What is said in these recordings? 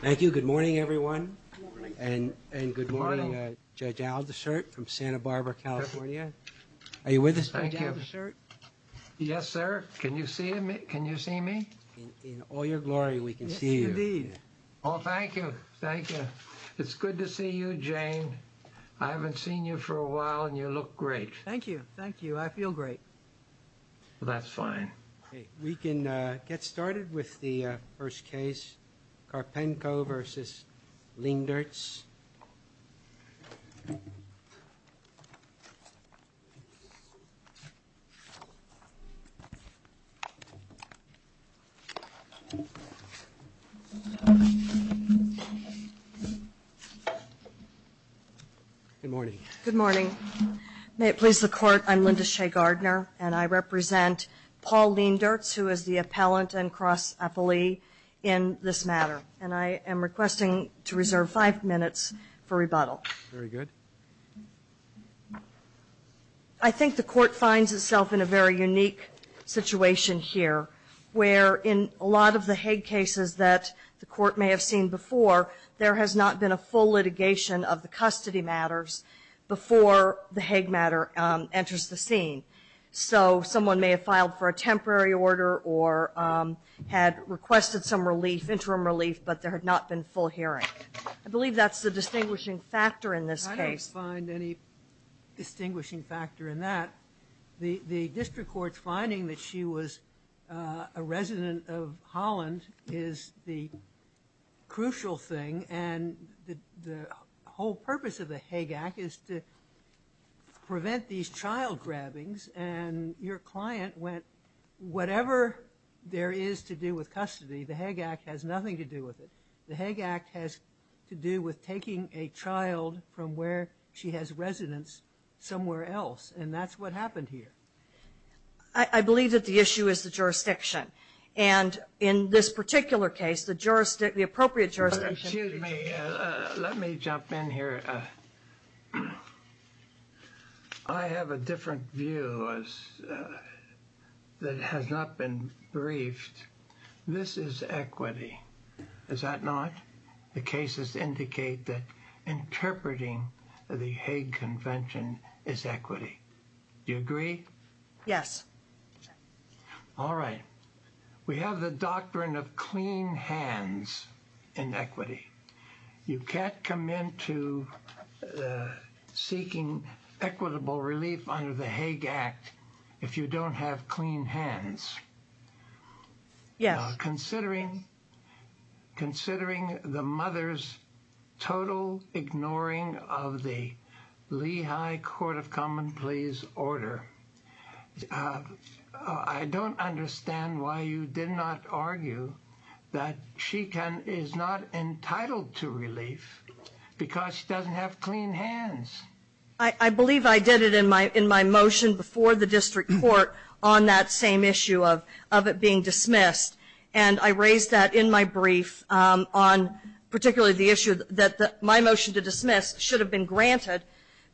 Thank you. Good morning, everyone. And good morning, Judge Aldershot from Santa Barbara, California. Are you with us, Judge Aldershot? Yes, sir. Can you see me? In all your glory, we can see you. Yes, indeed. Oh, thank you. Thank you. It's good to see you, Jane. I haven't seen you for a while and you look great. Thank you. Thank you. I feel great. That's fine. We can get started with the first case, Karpenko v. Leendertz. Good morning. Good morning. May it please the Court, I'm Linda Shea-Gardner and I represent Paul Leendertz, who is the appellant and cross-appellee in this matter, and I am requesting to reserve five minutes for rebuttal. Very good. I think the Court finds itself in a very unique situation here, where in a lot of the Hague cases that the Court may have seen before, there has not been a full litigation of the custody matters before the Hague matter enters the scene. So someone may have filed for a temporary order or had requested some relief, interim relief, but there had not been full hearing. I believe that's the distinguishing factor in this case. I don't find any distinguishing factor in that. The district court's finding that she was a resident of Holland is the crucial thing, and the whole purpose of the Hague Act is to prevent these child grabbings, and your client went, whatever there is to do with custody, the Hague Act has nothing to do with it. The Hague Act has to do with taking a child from where she has residence somewhere else, and that's what happened here. I believe that the issue is the jurisdiction, and in this particular case, the appropriate jurisdiction. Excuse me, let me jump in here. I have a different view that has not been briefed. This is equity, is that not? The cases indicate that interpreting the Hague Convention is equity. Do you agree? Yes. All right. We have the doctrine of clean hands in equity. You can't come into seeking equitable relief under the Hague Act if you don't have clean hands. Yes. Considering the mother's total ignoring of the that she is not entitled to relief because she doesn't have clean hands. I believe I did it in my motion before the district court on that same issue of it being dismissed, and I raised that in my brief on particularly the issue that my motion to dismiss should have been granted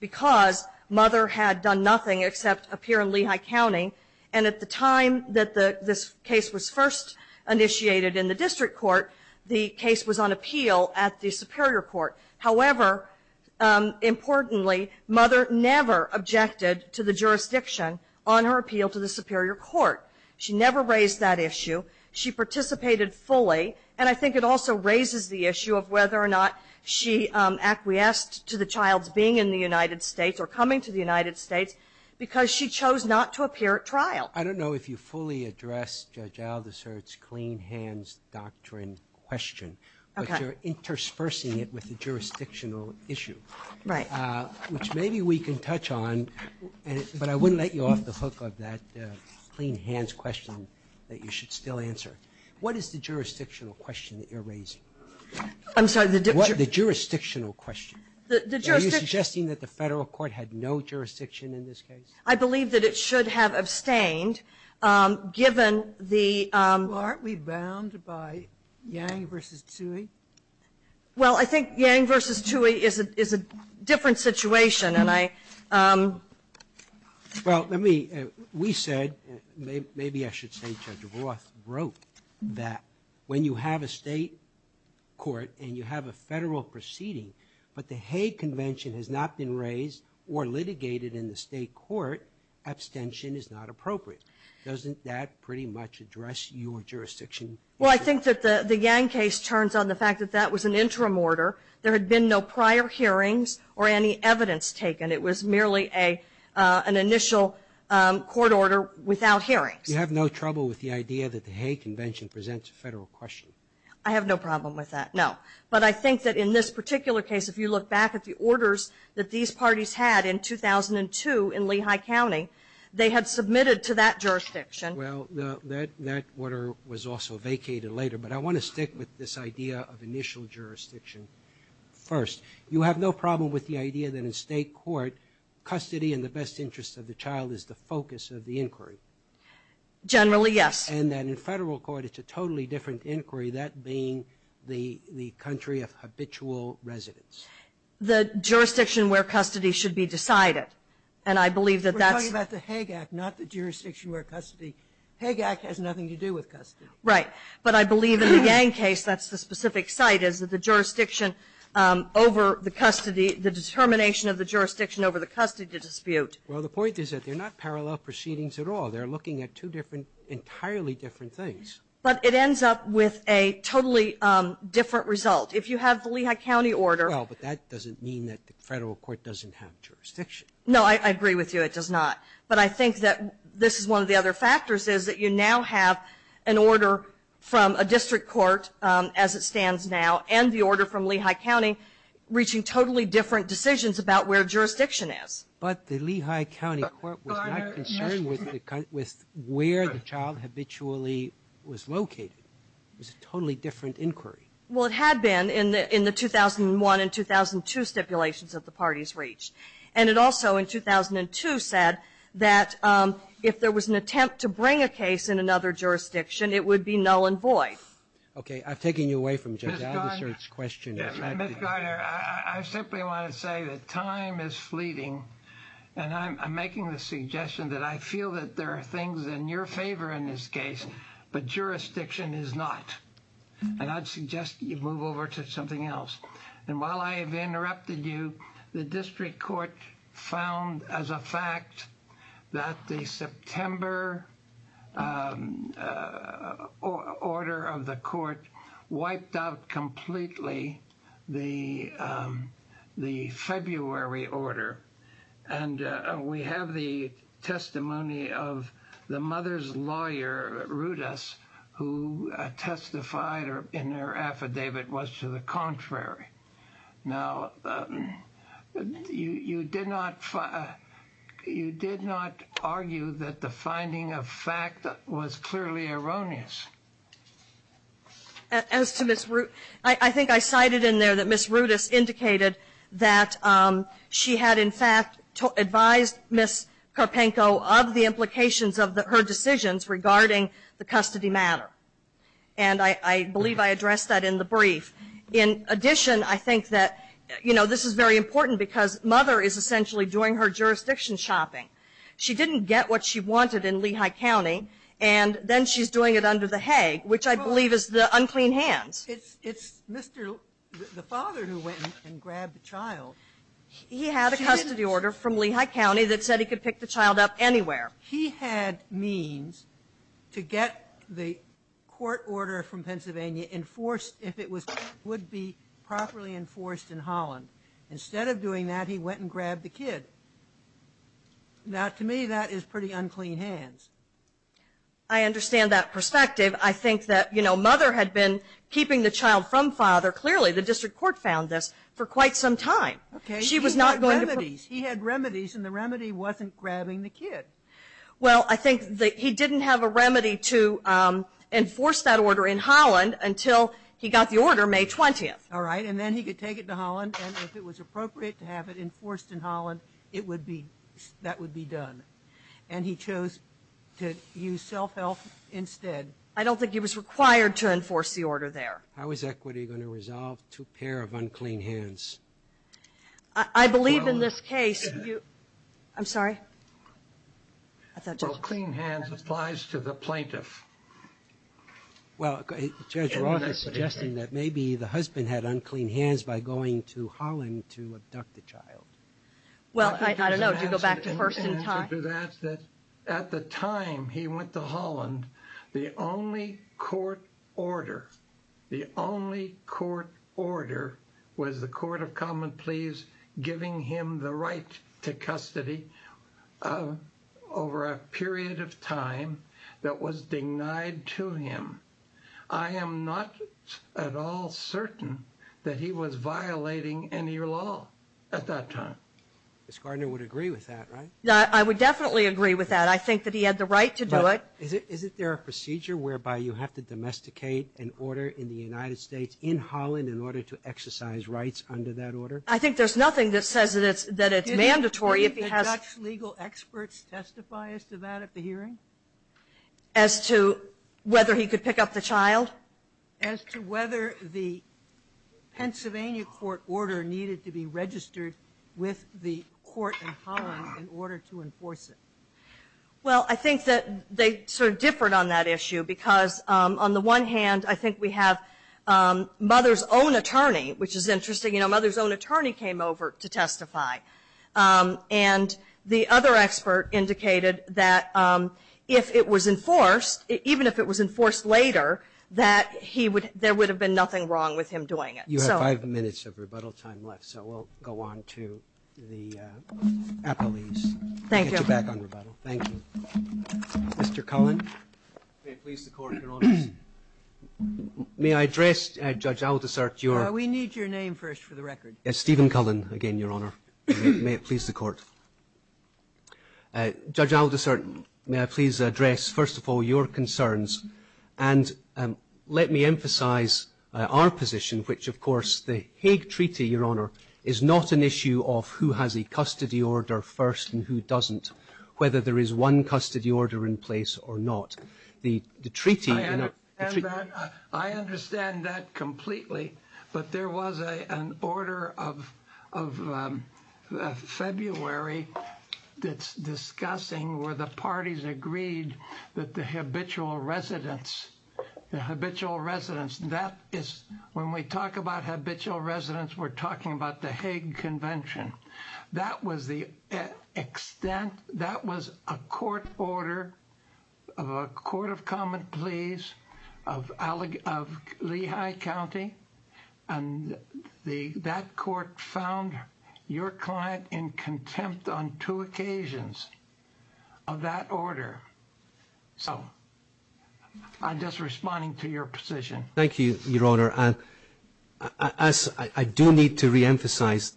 because mother had done nothing except appear in Lehigh County, and at the time that this case was first initiated in the district court, the case was on appeal at the superior court. However, importantly, mother never objected to the jurisdiction on her appeal to the superior court. She never raised that issue. She participated fully, and I think it also raises the issue of whether or not she acquiesced to the child's in the United States or coming to the United States because she chose not to appear at trial. I don't know if you fully addressed Judge Aldersert's clean hands doctrine question, but you're interspersing it with the jurisdictional issue, which maybe we can touch on, but I wouldn't let you off the hook of that clean hands question that you should still answer. What is the jurisdictional question that you're raising? I'm sorry. The jurisdictional question. Are you suggesting that the federal court had no jurisdiction in this case? I believe that it should have abstained given the... Well, aren't we bound by Yang v. Tsui? Well, I think Yang v. Tsui is a different situation, and I... Well, let me... We said, maybe I should say Judge Roth wrote that when you have a state court and you have a federal proceeding, but the Hay Convention has not been raised or litigated in the state court, abstention is not appropriate. Doesn't that pretty much address your jurisdiction? Well, I think that the Yang case turns on the fact that that was an interim order. There had been no prior hearings or any evidence taken. It was merely an initial court order without hearings. You have no trouble with the idea that the Hay Convention presents a federal question? I have no problem with that, no. But I think that in this particular case, if you look back at the orders that these parties had in 2002 in Lehigh County, they had submitted to that jurisdiction... Well, that order was also vacated later, but I want to stick with this idea of initial jurisdiction first. You have no problem with the idea that in state court, custody in the best interest of the child is the focus of the inquiry? Generally, yes. And that in federal court, it's a totally different inquiry, that being the country of habitual residence? The jurisdiction where custody should be decided. And I believe that that's... We're talking about the Hague Act, not the jurisdiction where custody. Hague Act has nothing to do with custody. Right. But I believe in the Yang case, that's the specific site, is that the jurisdiction over the custody, the determination of the jurisdiction over the custody dispute... Well, the point is that they're not parallel proceedings at all. They're looking at two different, entirely different things. But it ends up with a totally different result. If you have the Lehigh County order... Well, but that doesn't mean that the federal court doesn't have jurisdiction. No, I agree with you, it does not. But I think that this is one of the other factors, is that you now have an order from a district court, as it stands now, and the order from Lehigh County, reaching totally different decisions about where jurisdiction is. But the Lehigh County court was not concerned with where the child habitually was located. It was a totally different inquiry. Well, it had been in the 2001 and 2002 stipulations that the parties reached. And it also, in 2002, said that if there was an attempt to bring a case in another jurisdiction, it would be null and void. Okay. I'm taking you away from Judge Aldister's question. Mr. Gardner, I simply want to say that time is fleeting, and I'm making the suggestion that I feel that there are things in your favor in this case, but jurisdiction is not. And I'd suggest you move over to something else. And while I have interrupted you, the district court found, as a fact, that the September order of the court wiped out completely the February order. And we have the testimony of the mother's lawyer, Rudas, who testified in her affidavit was to the contrary. Now, you did not argue that the finding of fact was clearly erroneous. I think I cited in there that Ms. Rudas indicated that she had, in fact, advised Ms. Karpenko of the implications of her decisions regarding the custody matter. And I believe I addressed that in the brief. In addition, I think that, you know, this is very important because mother is essentially doing her jurisdiction shopping. She didn't get what she wanted in Lehigh County, and then she's doing it under the hay, which I believe is the unclean hands. It's Mr. the father who went and grabbed the child. He had a custody order from Lehigh County that said he could pick the child up anywhere. He had means to get the court order from Pennsylvania enforced if it would be properly enforced in Holland. Instead of doing that, he went and grabbed the kid. Now, to me, that is pretty unclean hands. I understand that perspective. I think that, you know, mother had been keeping the child from father. Clearly, the district court found this for quite some time. She was not going to... He had remedies, and the remedy wasn't grabbing the kid. Well, I think that he didn't have a remedy to enforce that order in Holland until he got the order May 20th. All right, and then he could take it to Holland, and if it was appropriate to have it enforced in Holland, that would be done. And he chose to use self-help instead. I don't think he was required to enforce the order there. How is equity going to resolve to a pair of unclean hands? I believe in this case... I'm sorry. Unclean hands applies to the plaintiff. Well, Judge Roth is suggesting that maybe the husband had unclean hands by going to Holland to abduct the child. Well, I don't know. Do you go back to first and time? At the time he went to Holland, the only court order, the only court order was the common pleas giving him the right to custody over a period of time that was denied to him. I am not at all certain that he was violating any law at that time. Ms. Gardner would agree with that, right? I would definitely agree with that. I think that he had the right to do it. Is it there a procedure whereby you have to domesticate an order in the United States in Holland in order to exercise rights under that order? I think there's nothing that says that it's mandatory. Did the Dutch legal experts testify as to that at the hearing? As to whether he could pick up the child? As to whether the Pennsylvania court order needed to be registered with the court in Holland in order to enforce it? Well, I think that they sort of differed on that issue because on the one hand, I think we have mother's own attorney, which is interesting. You know, mother's own attorney came over to testify. And the other expert indicated that if it was enforced, even if it was enforced later, that there would have been nothing wrong with him doing it. You have five minutes of rebuttal time left, so we'll go on to the appellees. Thank you. We'll get you back on rebuttal. Thank you. Mr. Cullen? May it please the Court, Your Honor. May I address, Judge Aldersert, your... We need your name first for the record. Stephen Cullen again, Your Honor. May it please the Court. Judge Aldersert, may I please address, first of all, your concerns. And let me emphasize our position, which, of course, the Hague Treaty, Your Honor, is not an issue of who has a custody order first and who doesn't, whether there is one custody order in place or not. The treaty... I understand that completely. But there was an order of February that's discussing where the parties agreed that the habitual residents, the habitual residents, that is, when we talk about habitual residents, we're talking about the Hague Convention. That was the extent... That was a court order of a court of common pleas of Lehigh County. And that court found your client in contempt on two occasions of that order. So I'm just responding to your position. Thank you, Your Honor. And as I do need to reemphasize,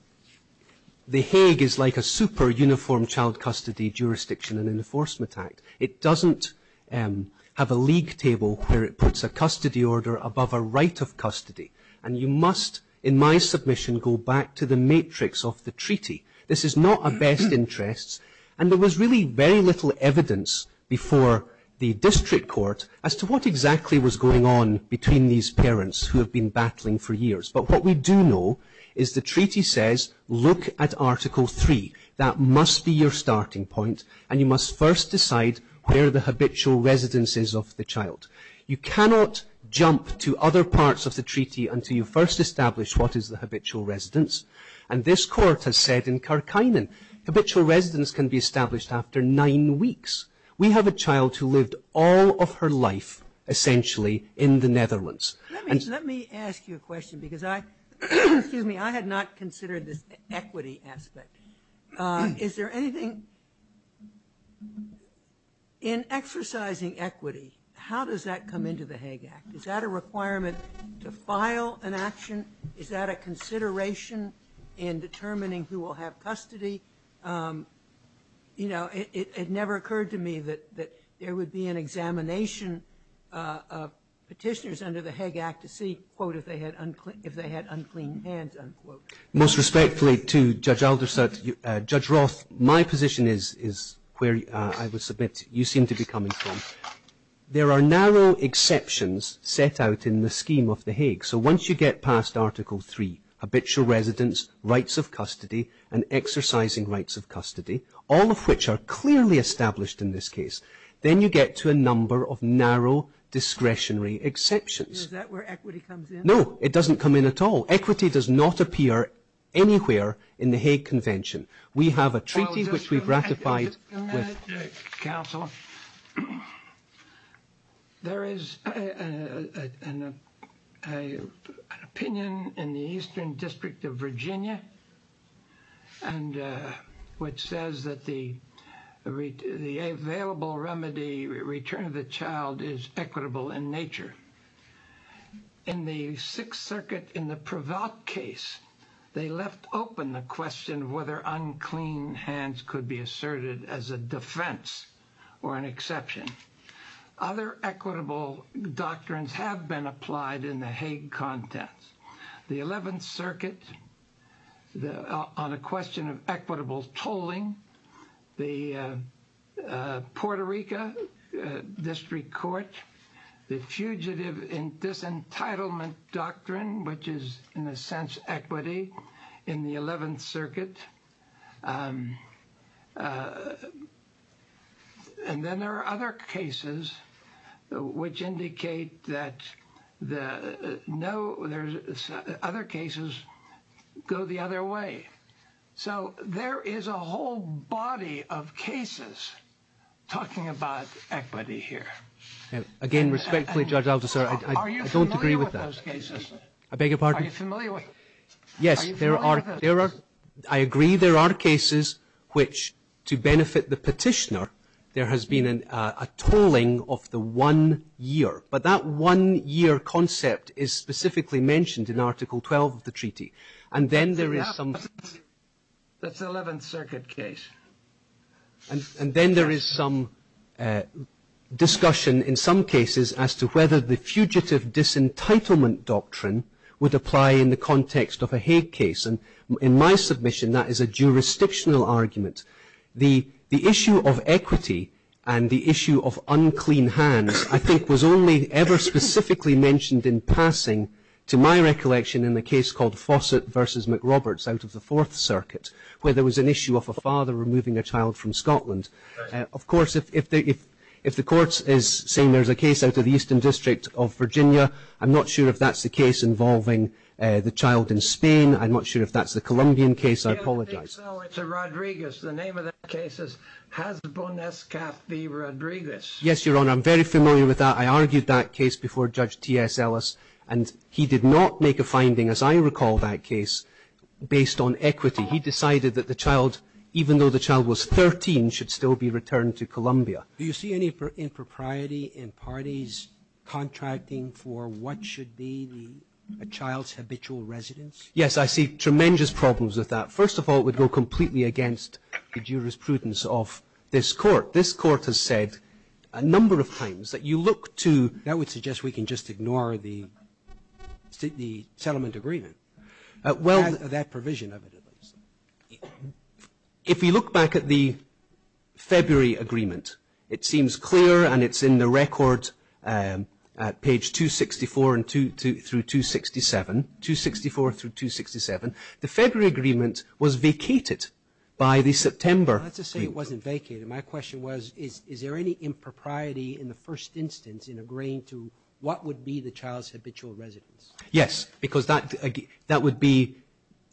the Hague is like a super uniform child custody jurisdiction and enforcement act. It doesn't have a league table where it puts a custody order above a right of custody. And you must, in my submission, go back to the matrix of the treaty. This is not a best interests. And there was really very little evidence before the district court as to what exactly was going on between these parents who have been battling for years. But what we do know is the treaty says, look at Article 3. That must be your starting point. And you must first decide where the habitual residence is of the child. You cannot jump to other parts of the treaty until you first establish what is the habitual residence. And this court has said in Kerkinen, habitual residence can be established after nine weeks. We have a child who lived all of her life essentially in the Netherlands. Let me ask you a question because I had not considered this equity aspect. Is there anything in exercising equity, how does that come into the Hague Act? Is that a requirement to file an action? Is that a consideration in determining who will have custody? It never occurred to me that there would be an examination of petitioners under the Hague Act to see if they had unclean hands. Most respectfully to Judge Aldersot, Judge Roth, my position is where I would submit you seem to be coming from. There are narrow exceptions set out in the scheme of the Hague. So once you get past Article 3, habitual residence, rights of custody and exercising rights of custody, all of which are clearly established in this case, then you get to a number of narrow discretionary exceptions. Is that where equity comes in? No, it doesn't come in at all. Equity does not appear anywhere in the Hague Convention. We have a treaty which we've ratified with... There is an opinion in the Eastern District of Virginia which says that the available remedy, return of the child is equitable in nature. In the Sixth Circuit, in the Prevalt case, they left open the question of whether unclean hands could be asserted as a defense or an exception. Other equitable doctrines have been applied in the Hague Contents. The Eleventh Circuit, on a question of equitable tolling, the Puerto Rico District Court, the Fugitive Disentitlement Doctrine, which is in a sense equity in the Eleventh Circuit. And then there are other cases which indicate that other cases go the other way. So there is a whole body of cases talking about equity here. And again, respectfully, Judge Althusser, I don't agree with that. Are you familiar with those cases? I beg your pardon? Are you familiar with those cases? Yes, there are. Are you familiar with those cases? I am. There are cases which, to benefit the petitioner, there has been a tolling of the one year. But that one-year concept is specifically mentioned in Article 12 of the Treaty. That's the Eleventh Circuit case. And then there is some discussion in some cases as to whether the Fugitive Disentitlement Doctrine would apply in the context of a Hague case. In my submission, that is a jurisdictional argument. The issue of equity and the issue of unclean hands, I think, was only ever specifically mentioned in passing to my recollection in the case called Fawcett v. McRoberts out of the Fourth Circuit, where there was an issue of a father removing a child from Scotland. Of course, if the court is saying there's a case out of the Eastern District of Virginia, I'm not sure if that's the case involving the child in Spain. I'm not sure if that's the Colombian case. I apologize. No, it's a Rodriguez. The name of that case is Hasbon S. Cathy Rodriguez. Yes, Your Honor. I'm very familiar with that. I argued that case before Judge T.S. Ellis, and he did not make a finding, as I recall that case, based on equity. He decided that the child, even though the child was 13, should still be returned to Colombia. Do you see any impropriety in parties contracting for what should be the child's habitual residence? Yes, I see tremendous problems with that. First of all, it would go completely against the jurisprudence of this court. This court has said a number of times that you look to— That would suggest we can just ignore the settlement agreement. That provision of it, at least. If you look back at the February agreement, it seems clear and it's in the record at page 264 through 267. 264 through 267. The February agreement was vacated by the September— That's to say it wasn't vacated. My question was, is there any impropriety in the first instance in agreeing to what would be the child's habitual residence? Yes, because that would be,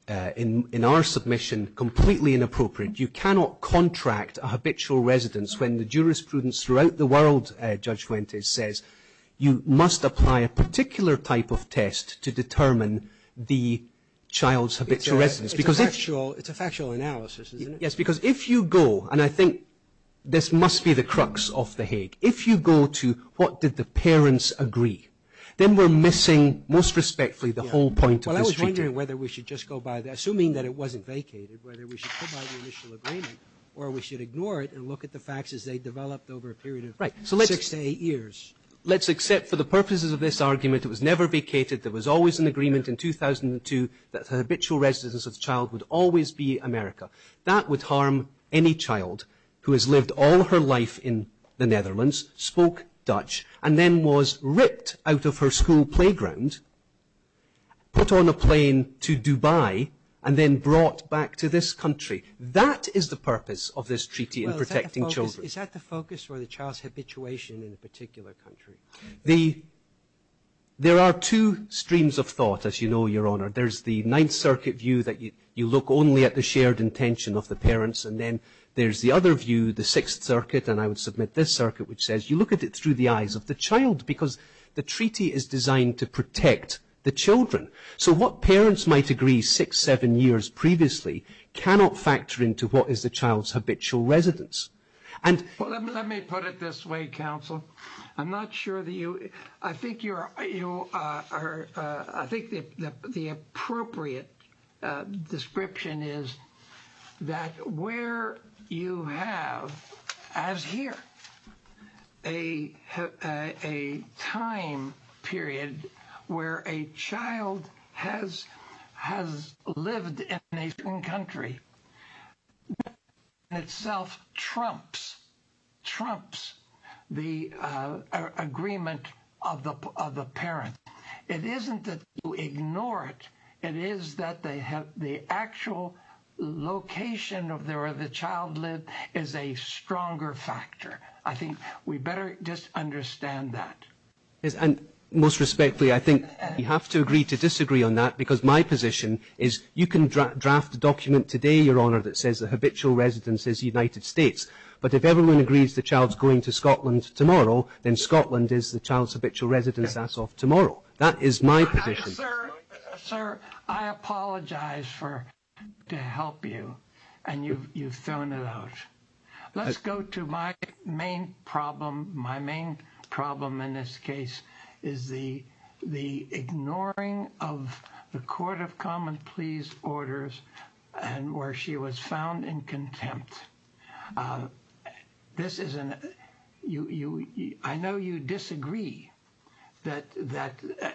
in our submission, completely inappropriate. You cannot contract a habitual residence when the jurisprudence throughout the world, Judge Fuentes says, you must apply a particular type of test to determine the child's habitual residence. It's a factual analysis, isn't it? Yes, because if you go, and I think this must be the crux of the Hague, if you go to what did the parents agree, then we're missing, most respectfully, the whole point of this treaty. I was wondering whether we should just go by that, assuming that it wasn't vacated, whether we should go by the initial agreement or we should ignore it and look at the facts as they developed over a period of six to eight years. Let's accept, for the purposes of this argument, it was never vacated. There was always an agreement in 2002 that the habitual residence of the child would always be America. That would harm any child who has lived all her life in the Netherlands, spoke Dutch, and then was ripped out of her school playground, put on a plane to Dubai, and then brought back to this country. That is the purpose of this treaty in protecting children. Is that the focus or the child's habituation in a particular country? There are two streams of thought, as you know, Your Honour. There's the Ninth Circuit view, that you look only at the shared intention of the parents, and then there's the other view, the Sixth Circuit, and I would submit this circuit, which says you look at it through the eyes of the child because the treaty is designed to protect the children. So what parents might agree six, seven years previously cannot factor into what is the child's habitual residence. Well, let me put it this way, Counsel. I think the appropriate description is that where you have, as here, a time period where a child has lived in a certain country that in itself trumps the agreement of the parent. It isn't that you ignore it. It is that the actual location of where the child lived is a stronger factor. I think we better just understand that. And most respectfully, I think you have to agree to disagree on that because my position is you can draft a document today, Your Honour, that says the habitual residence is the United States, but if everyone agrees the child's going to Scotland tomorrow, then Scotland is the child's habitual residence that's of tomorrow. That is my position. Sir, I apologise to help you, and you've thrown it out. Let's go to my main problem. In this case, is the ignoring of the court of common pleas orders and where she was found in contempt. I know you disagree that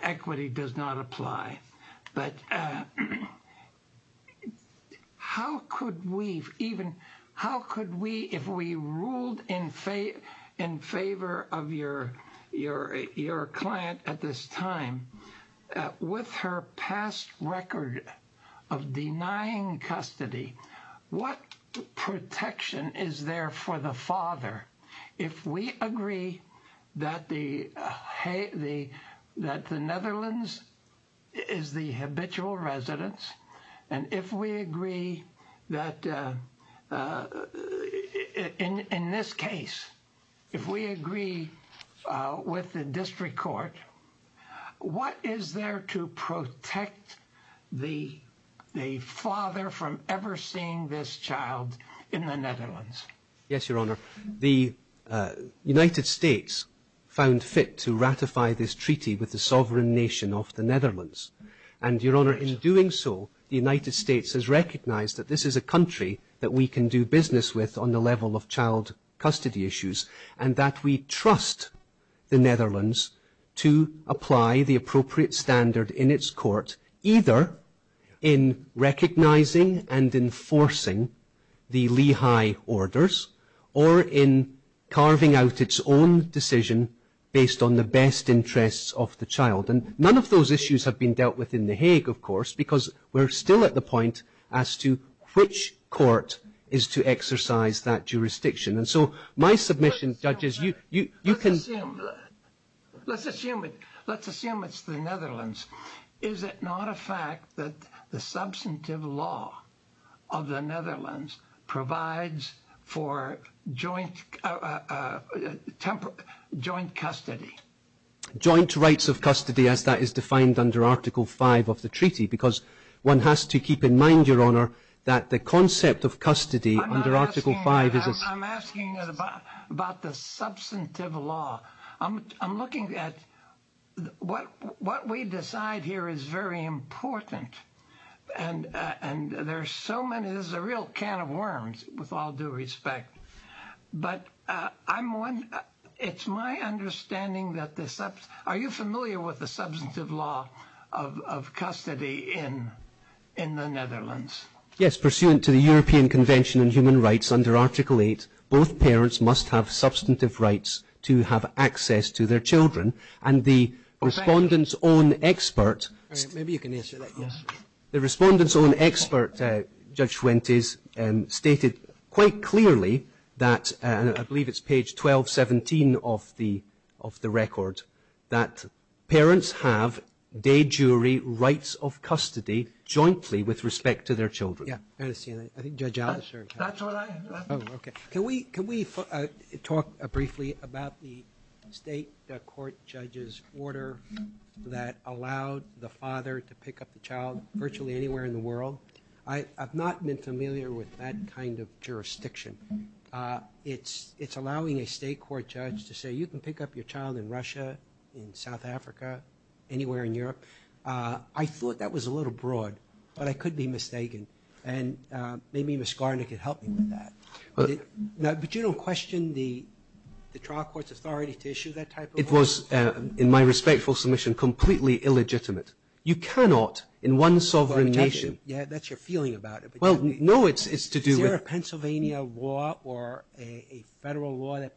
equity does not apply, but how could we, if we ruled in favour of your client at this time, with her past record of denying custody, what protection is there for the father if we agree that the Netherlands is the habitual residence and if we agree that in this case, if we agree with the district court, what is there to protect the father from ever seeing this child in the Netherlands? Yes, Your Honour. The United States found fit to ratify this treaty with the sovereign nation of the Netherlands. And, Your Honour, in doing so, the United States has recognised that this is a country that we can do business with on the level of child custody issues and that we trust the Netherlands to apply the appropriate standard in its court either in recognising and enforcing the Lehigh orders or in carving out its own decision based on the best interests of the child. And none of those issues have been dealt with in The Hague, of course, because we're still at the point as to which court is to exercise that jurisdiction. And so my submission, judges, you can... Let's assume it's the Netherlands. Is it not a fact that the substantive law of the Netherlands provides for joint custody? Joint rights of custody, as that is defined under Article 5 of the treaty, because one has to keep in mind, Your Honour, that the concept of custody under Article 5 is... I'm asking about the substantive law. I'm looking at what we decide here is very important. And there's so many... There's a real can of worms, with all due respect. But it's my understanding that the... Are you familiar with the substantive law of custody in the Netherlands? Yes, pursuant to the European Convention on Human Rights under Article 8, both parents must have substantive rights to have access to their children. And the respondent's own expert... All right, maybe you can answer that. Yes. The respondent's own expert, Judge Schwentes, stated quite clearly that, and I believe it's page 1217 of the record, that parents have de jure rights of custody jointly with respect to their children. Yeah, I understand that. I think Judge Allen... That's all I have. Oh, okay. Can we talk briefly about the state court judge's order that allowed the father to pick up the child virtually anywhere in the world? I have not been familiar with that kind of jurisdiction. It's allowing a state court judge to say, you can pick up your child in Russia, in South Africa, anywhere in Europe. I thought that was a little broad, but I could be mistaken. And maybe Ms. Garner could help me with that. Now, but you don't question the trial court's authority to issue that type of order? It was, in my respectful submission, completely illegitimate. You cannot, in one sovereign nation... Yeah, that's your feeling about it. Well, no, it's to do with... Is there a Pennsylvania law or a federal law that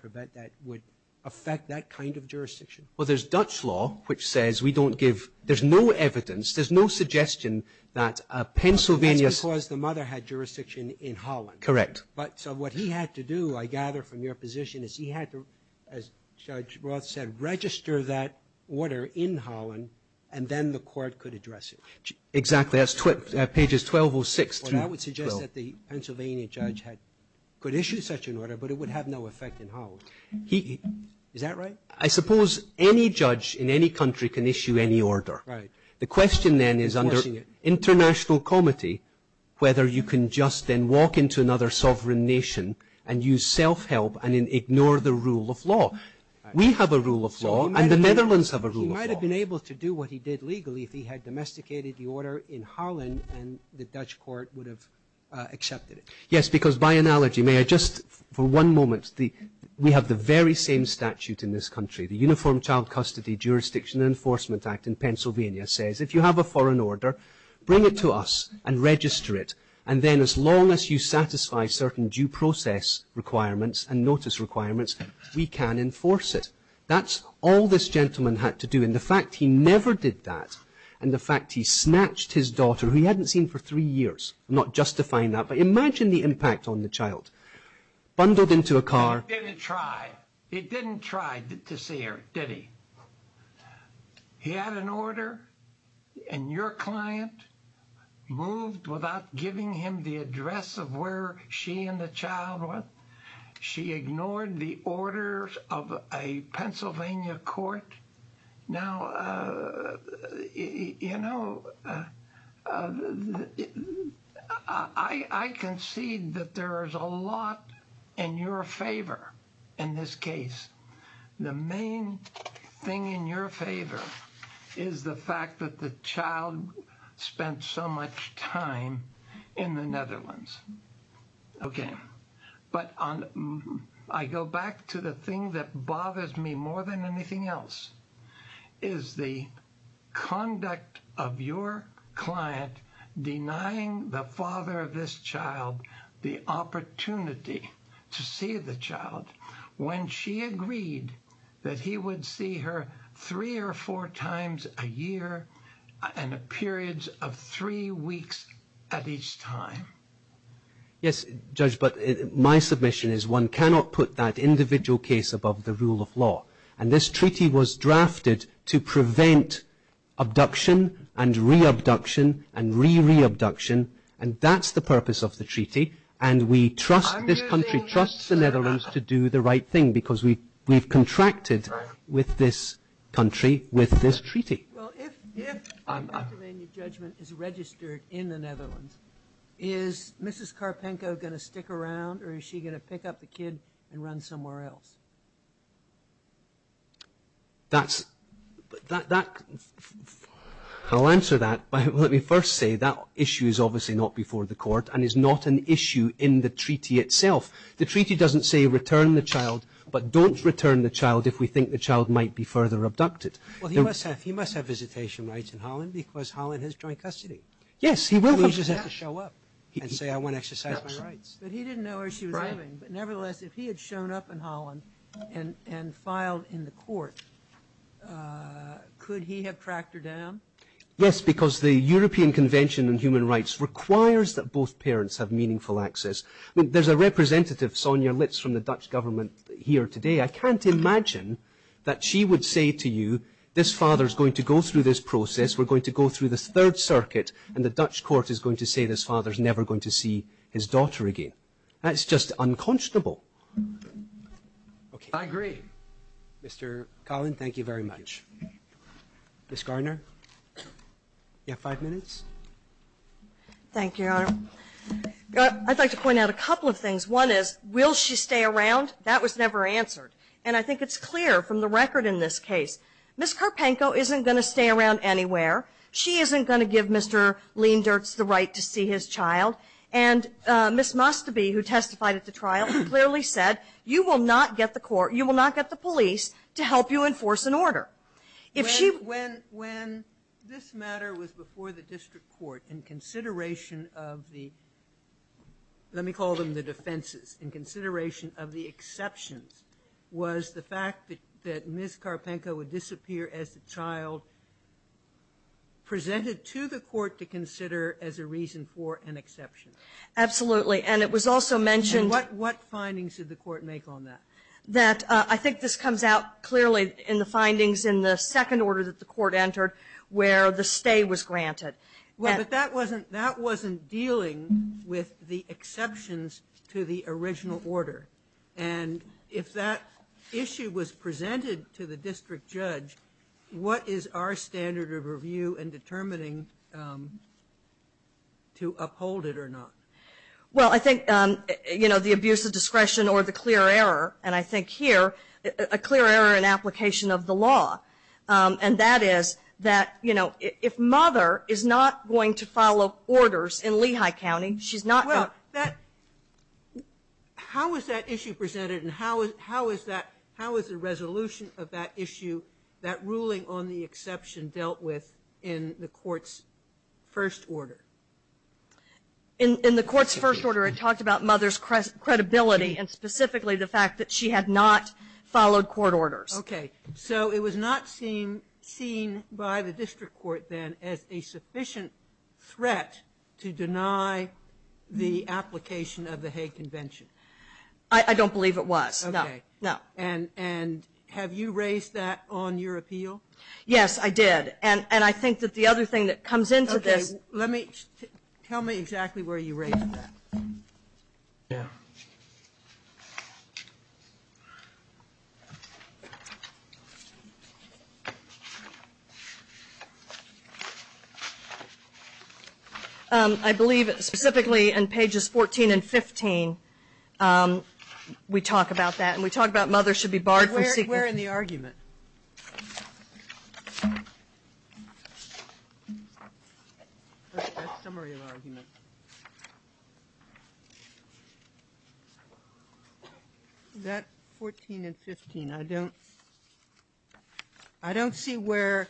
would affect that kind of jurisdiction? Well, there's Dutch law, which says we don't give... There's no evidence, there's no suggestion that a Pennsylvania... That's because the mother had jurisdiction in Holland. Correct. So what he had to do, I gather from your position, is he had to, as Judge Roth said, register that order in Holland, and then the court could address it. Exactly, that's pages 1206 through 12. Well, that would suggest that the Pennsylvania judge could issue such an order, but it would have no effect in Holland. Is that right? I suppose any judge in any country can issue any order. Right. The question then is under international comity, whether you can just then walk into another sovereign nation and use self-help and ignore the rule of law. We have a rule of law, and the Netherlands have a rule of law. So he might have been able to do what he did legally if he had domesticated the order in Holland, and the Dutch court would have accepted it. Yes, because by analogy, may I just... For one moment, we have the very same statute in this country. The Uniform Child Custody Jurisdiction Enforcement Act in Pennsylvania says, if you have a foreign order, bring it to us and register it, and then as long as you satisfy certain due process requirements and notice requirements, we can enforce it. That's all this gentleman had to do, and the fact he never did that, and the fact he snatched his daughter, who he hadn't seen for three years, I'm not justifying that, but imagine the impact on the child. Bundled into a car... He didn't try. He didn't try to see her, did he? He had an order, and your client moved without giving him the address of where she and the child was. She ignored the orders of a Pennsylvania court. Now, you know, I concede that there is a lot in your favor in this case. The main thing in your favor is the fact that the child spent so much time in the Netherlands, okay? But I go back to the thing that bothers me more than anything else is the conduct of your client denying the father of this child the opportunity to see the child when she agreed that he would see her three or four times a year and periods of three weeks at each time. Yes, Judge, but my submission is one cannot put that individual case above the rule of law, and this treaty was drafted to prevent abduction and reabduction and re-reabduction, and that's the purpose of the treaty, and this country trusts the Netherlands to do the right thing because we've contracted with this country with this treaty. Well, if a Pennsylvania judgment is registered in the Netherlands, is Mrs. Karpenko going to stick around or is she going to pick up the kid and run somewhere else? I'll answer that. Let me first say that issue is obviously not before the court and is not an issue in the treaty itself. The treaty doesn't say return the child, but don't return the child if we think the child might be further abducted. Well, he must have visitation rights in Holland because Holland has joint custody. Yes, he will come to Holland. He doesn't have to show up and say, I want to exercise my rights. But he didn't know where she was living, but nevertheless, if he had shown up in Holland and filed in the court, could he have tracked her down? Yes, because the European Convention on Human Rights requires that both parents have meaningful access. I mean, there's a representative, Sonia Litz, from the Dutch government here today. I can't imagine that she would say to you, this father's going to go through this process, we're going to go through this third circuit, and the Dutch court is going to say this father's never going to see his daughter again. That's just unconscionable. Okay. I agree. Mr. Colin, thank you very much. Ms. Garner, you have five minutes. Thank you, Your Honor. I'd like to point out a couple of things. One is, will she stay around? That was never answered. And I think it's clear from the record in this case, Ms. Karpenko isn't going to stay around anywhere. She isn't going to give Mr. Leendertz the right to see his child. And Ms. Mustobe, who testified at the trial, clearly said, you will not get the court, you will not get the police to help you enforce an order. If she wasn't there, she wouldn't be here. When this matter was before the district court in consideration of the, let me call them the defenses, in consideration of the exceptions, was the fact that Ms. Karpenko would disappear as a child presented to the court to consider as a reason for an exception. Absolutely. And it was also mentioned- What findings did the court make on that? That, I think this comes out clearly in the findings in the second order that the court entered, where the stay was granted. Well, but that wasn't dealing with the exceptions to the original order. And if that issue was presented to the district judge, what is our standard of review in determining to uphold it or not? Well, I think, you know, the abuse of discretion or the clear error, and I think here, a clear error in application of the law. And that is that, you know, if mother is not going to follow orders in Lehigh County, she's not- Well, that, how was that issue presented and how is that, how is the resolution of that issue, that ruling on the exception, dealt with in the court's first order? In the court's first order, it talked about mother's credibility and specifically the fact that she had not followed court orders. Okay, so it was not seen by the district court then as a sufficient threat to deny the application of the Hague Convention? I don't believe it was, no. Okay, and have you raised that on your appeal? Yes, I did. And I think that the other thing that comes into this- Okay, let me, tell me exactly where you raised that. I believe specifically in pages 14 and 15, we talk about that and we talk about mother should be barred from- Where in the argument? That 14 and 15. I don't, I don't see where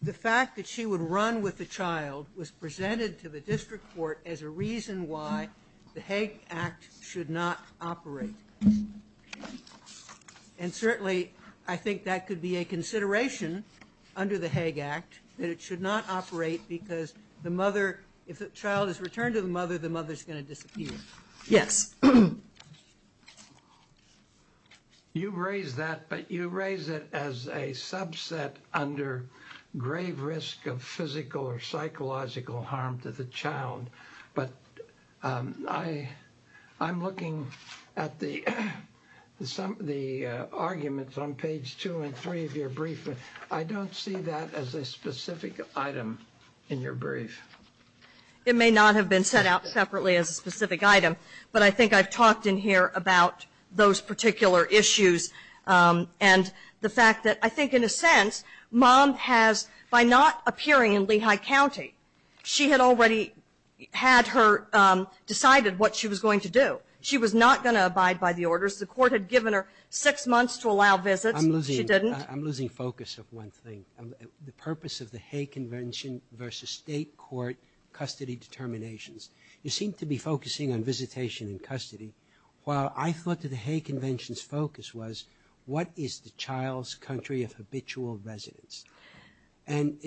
the fact that she would run with the child was presented to the district court as a reason why the Hague Act should not operate. And certainly, I think that could be a consideration under the Hague Act that it should not operate because the mother, if the child is returned to the mother, the mother's gonna disappear. Yes. You've raised that, but you raise it as a subset under grave risk of physical or psychological harm to the child. But I'm looking at the arguments on page two and three of your brief, but I don't see that as a specific item in your brief. It may not have been set out separately as a specific item, but I think it is. I've talked in here about those particular issues and the fact that I think, in a sense, mom has, by not appearing in Lehigh County, she had already had her decided what she was going to do. She was not gonna abide by the orders. The court had given her six months to allow visits. I'm losing- She didn't. I'm losing focus of one thing. The purpose of the Hague Convention versus state court custody determinations. You seem to be focusing on visitation and custody, while I thought that the Hague Convention's focus was what is the child's country of habitual residence? And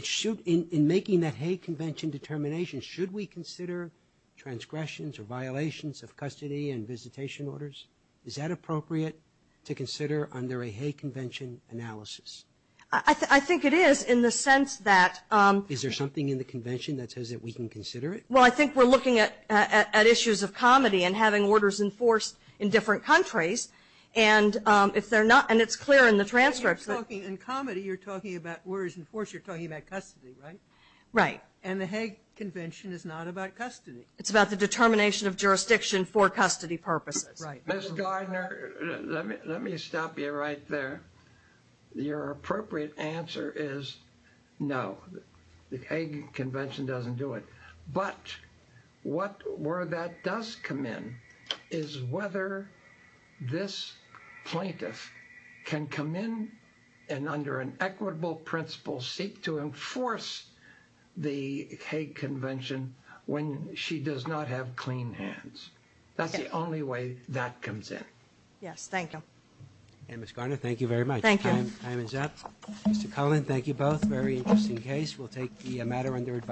in making that Hague Convention determination, should we consider transgressions or violations of custody and visitation orders? Is that appropriate to consider under a Hague Convention analysis? I think it is in the sense that- Is there something in the convention that says that we can consider it? Well, I think we're looking at issues of comedy and having orders enforced in different countries. And if they're not- And it's clear in the transcripts that- In comedy, you're talking about orders enforced. You're talking about custody, right? Right. And the Hague Convention is not about custody. It's about the determination of jurisdiction for custody purposes. Right. Ms. Gardner, let me stop you right there. Your appropriate answer is no. The Hague Convention doesn't do it. But where that does come in is whether this plaintiff can come in and under an equitable principle seek to enforce the Hague Convention when she does not have clean hands. That's the only way that comes in. Yes, thank you. And Ms. Gardner, thank you very much. Thank you. Time is up. Mr. Cullen, thank you both. Very interesting case. We'll take the matter under advice.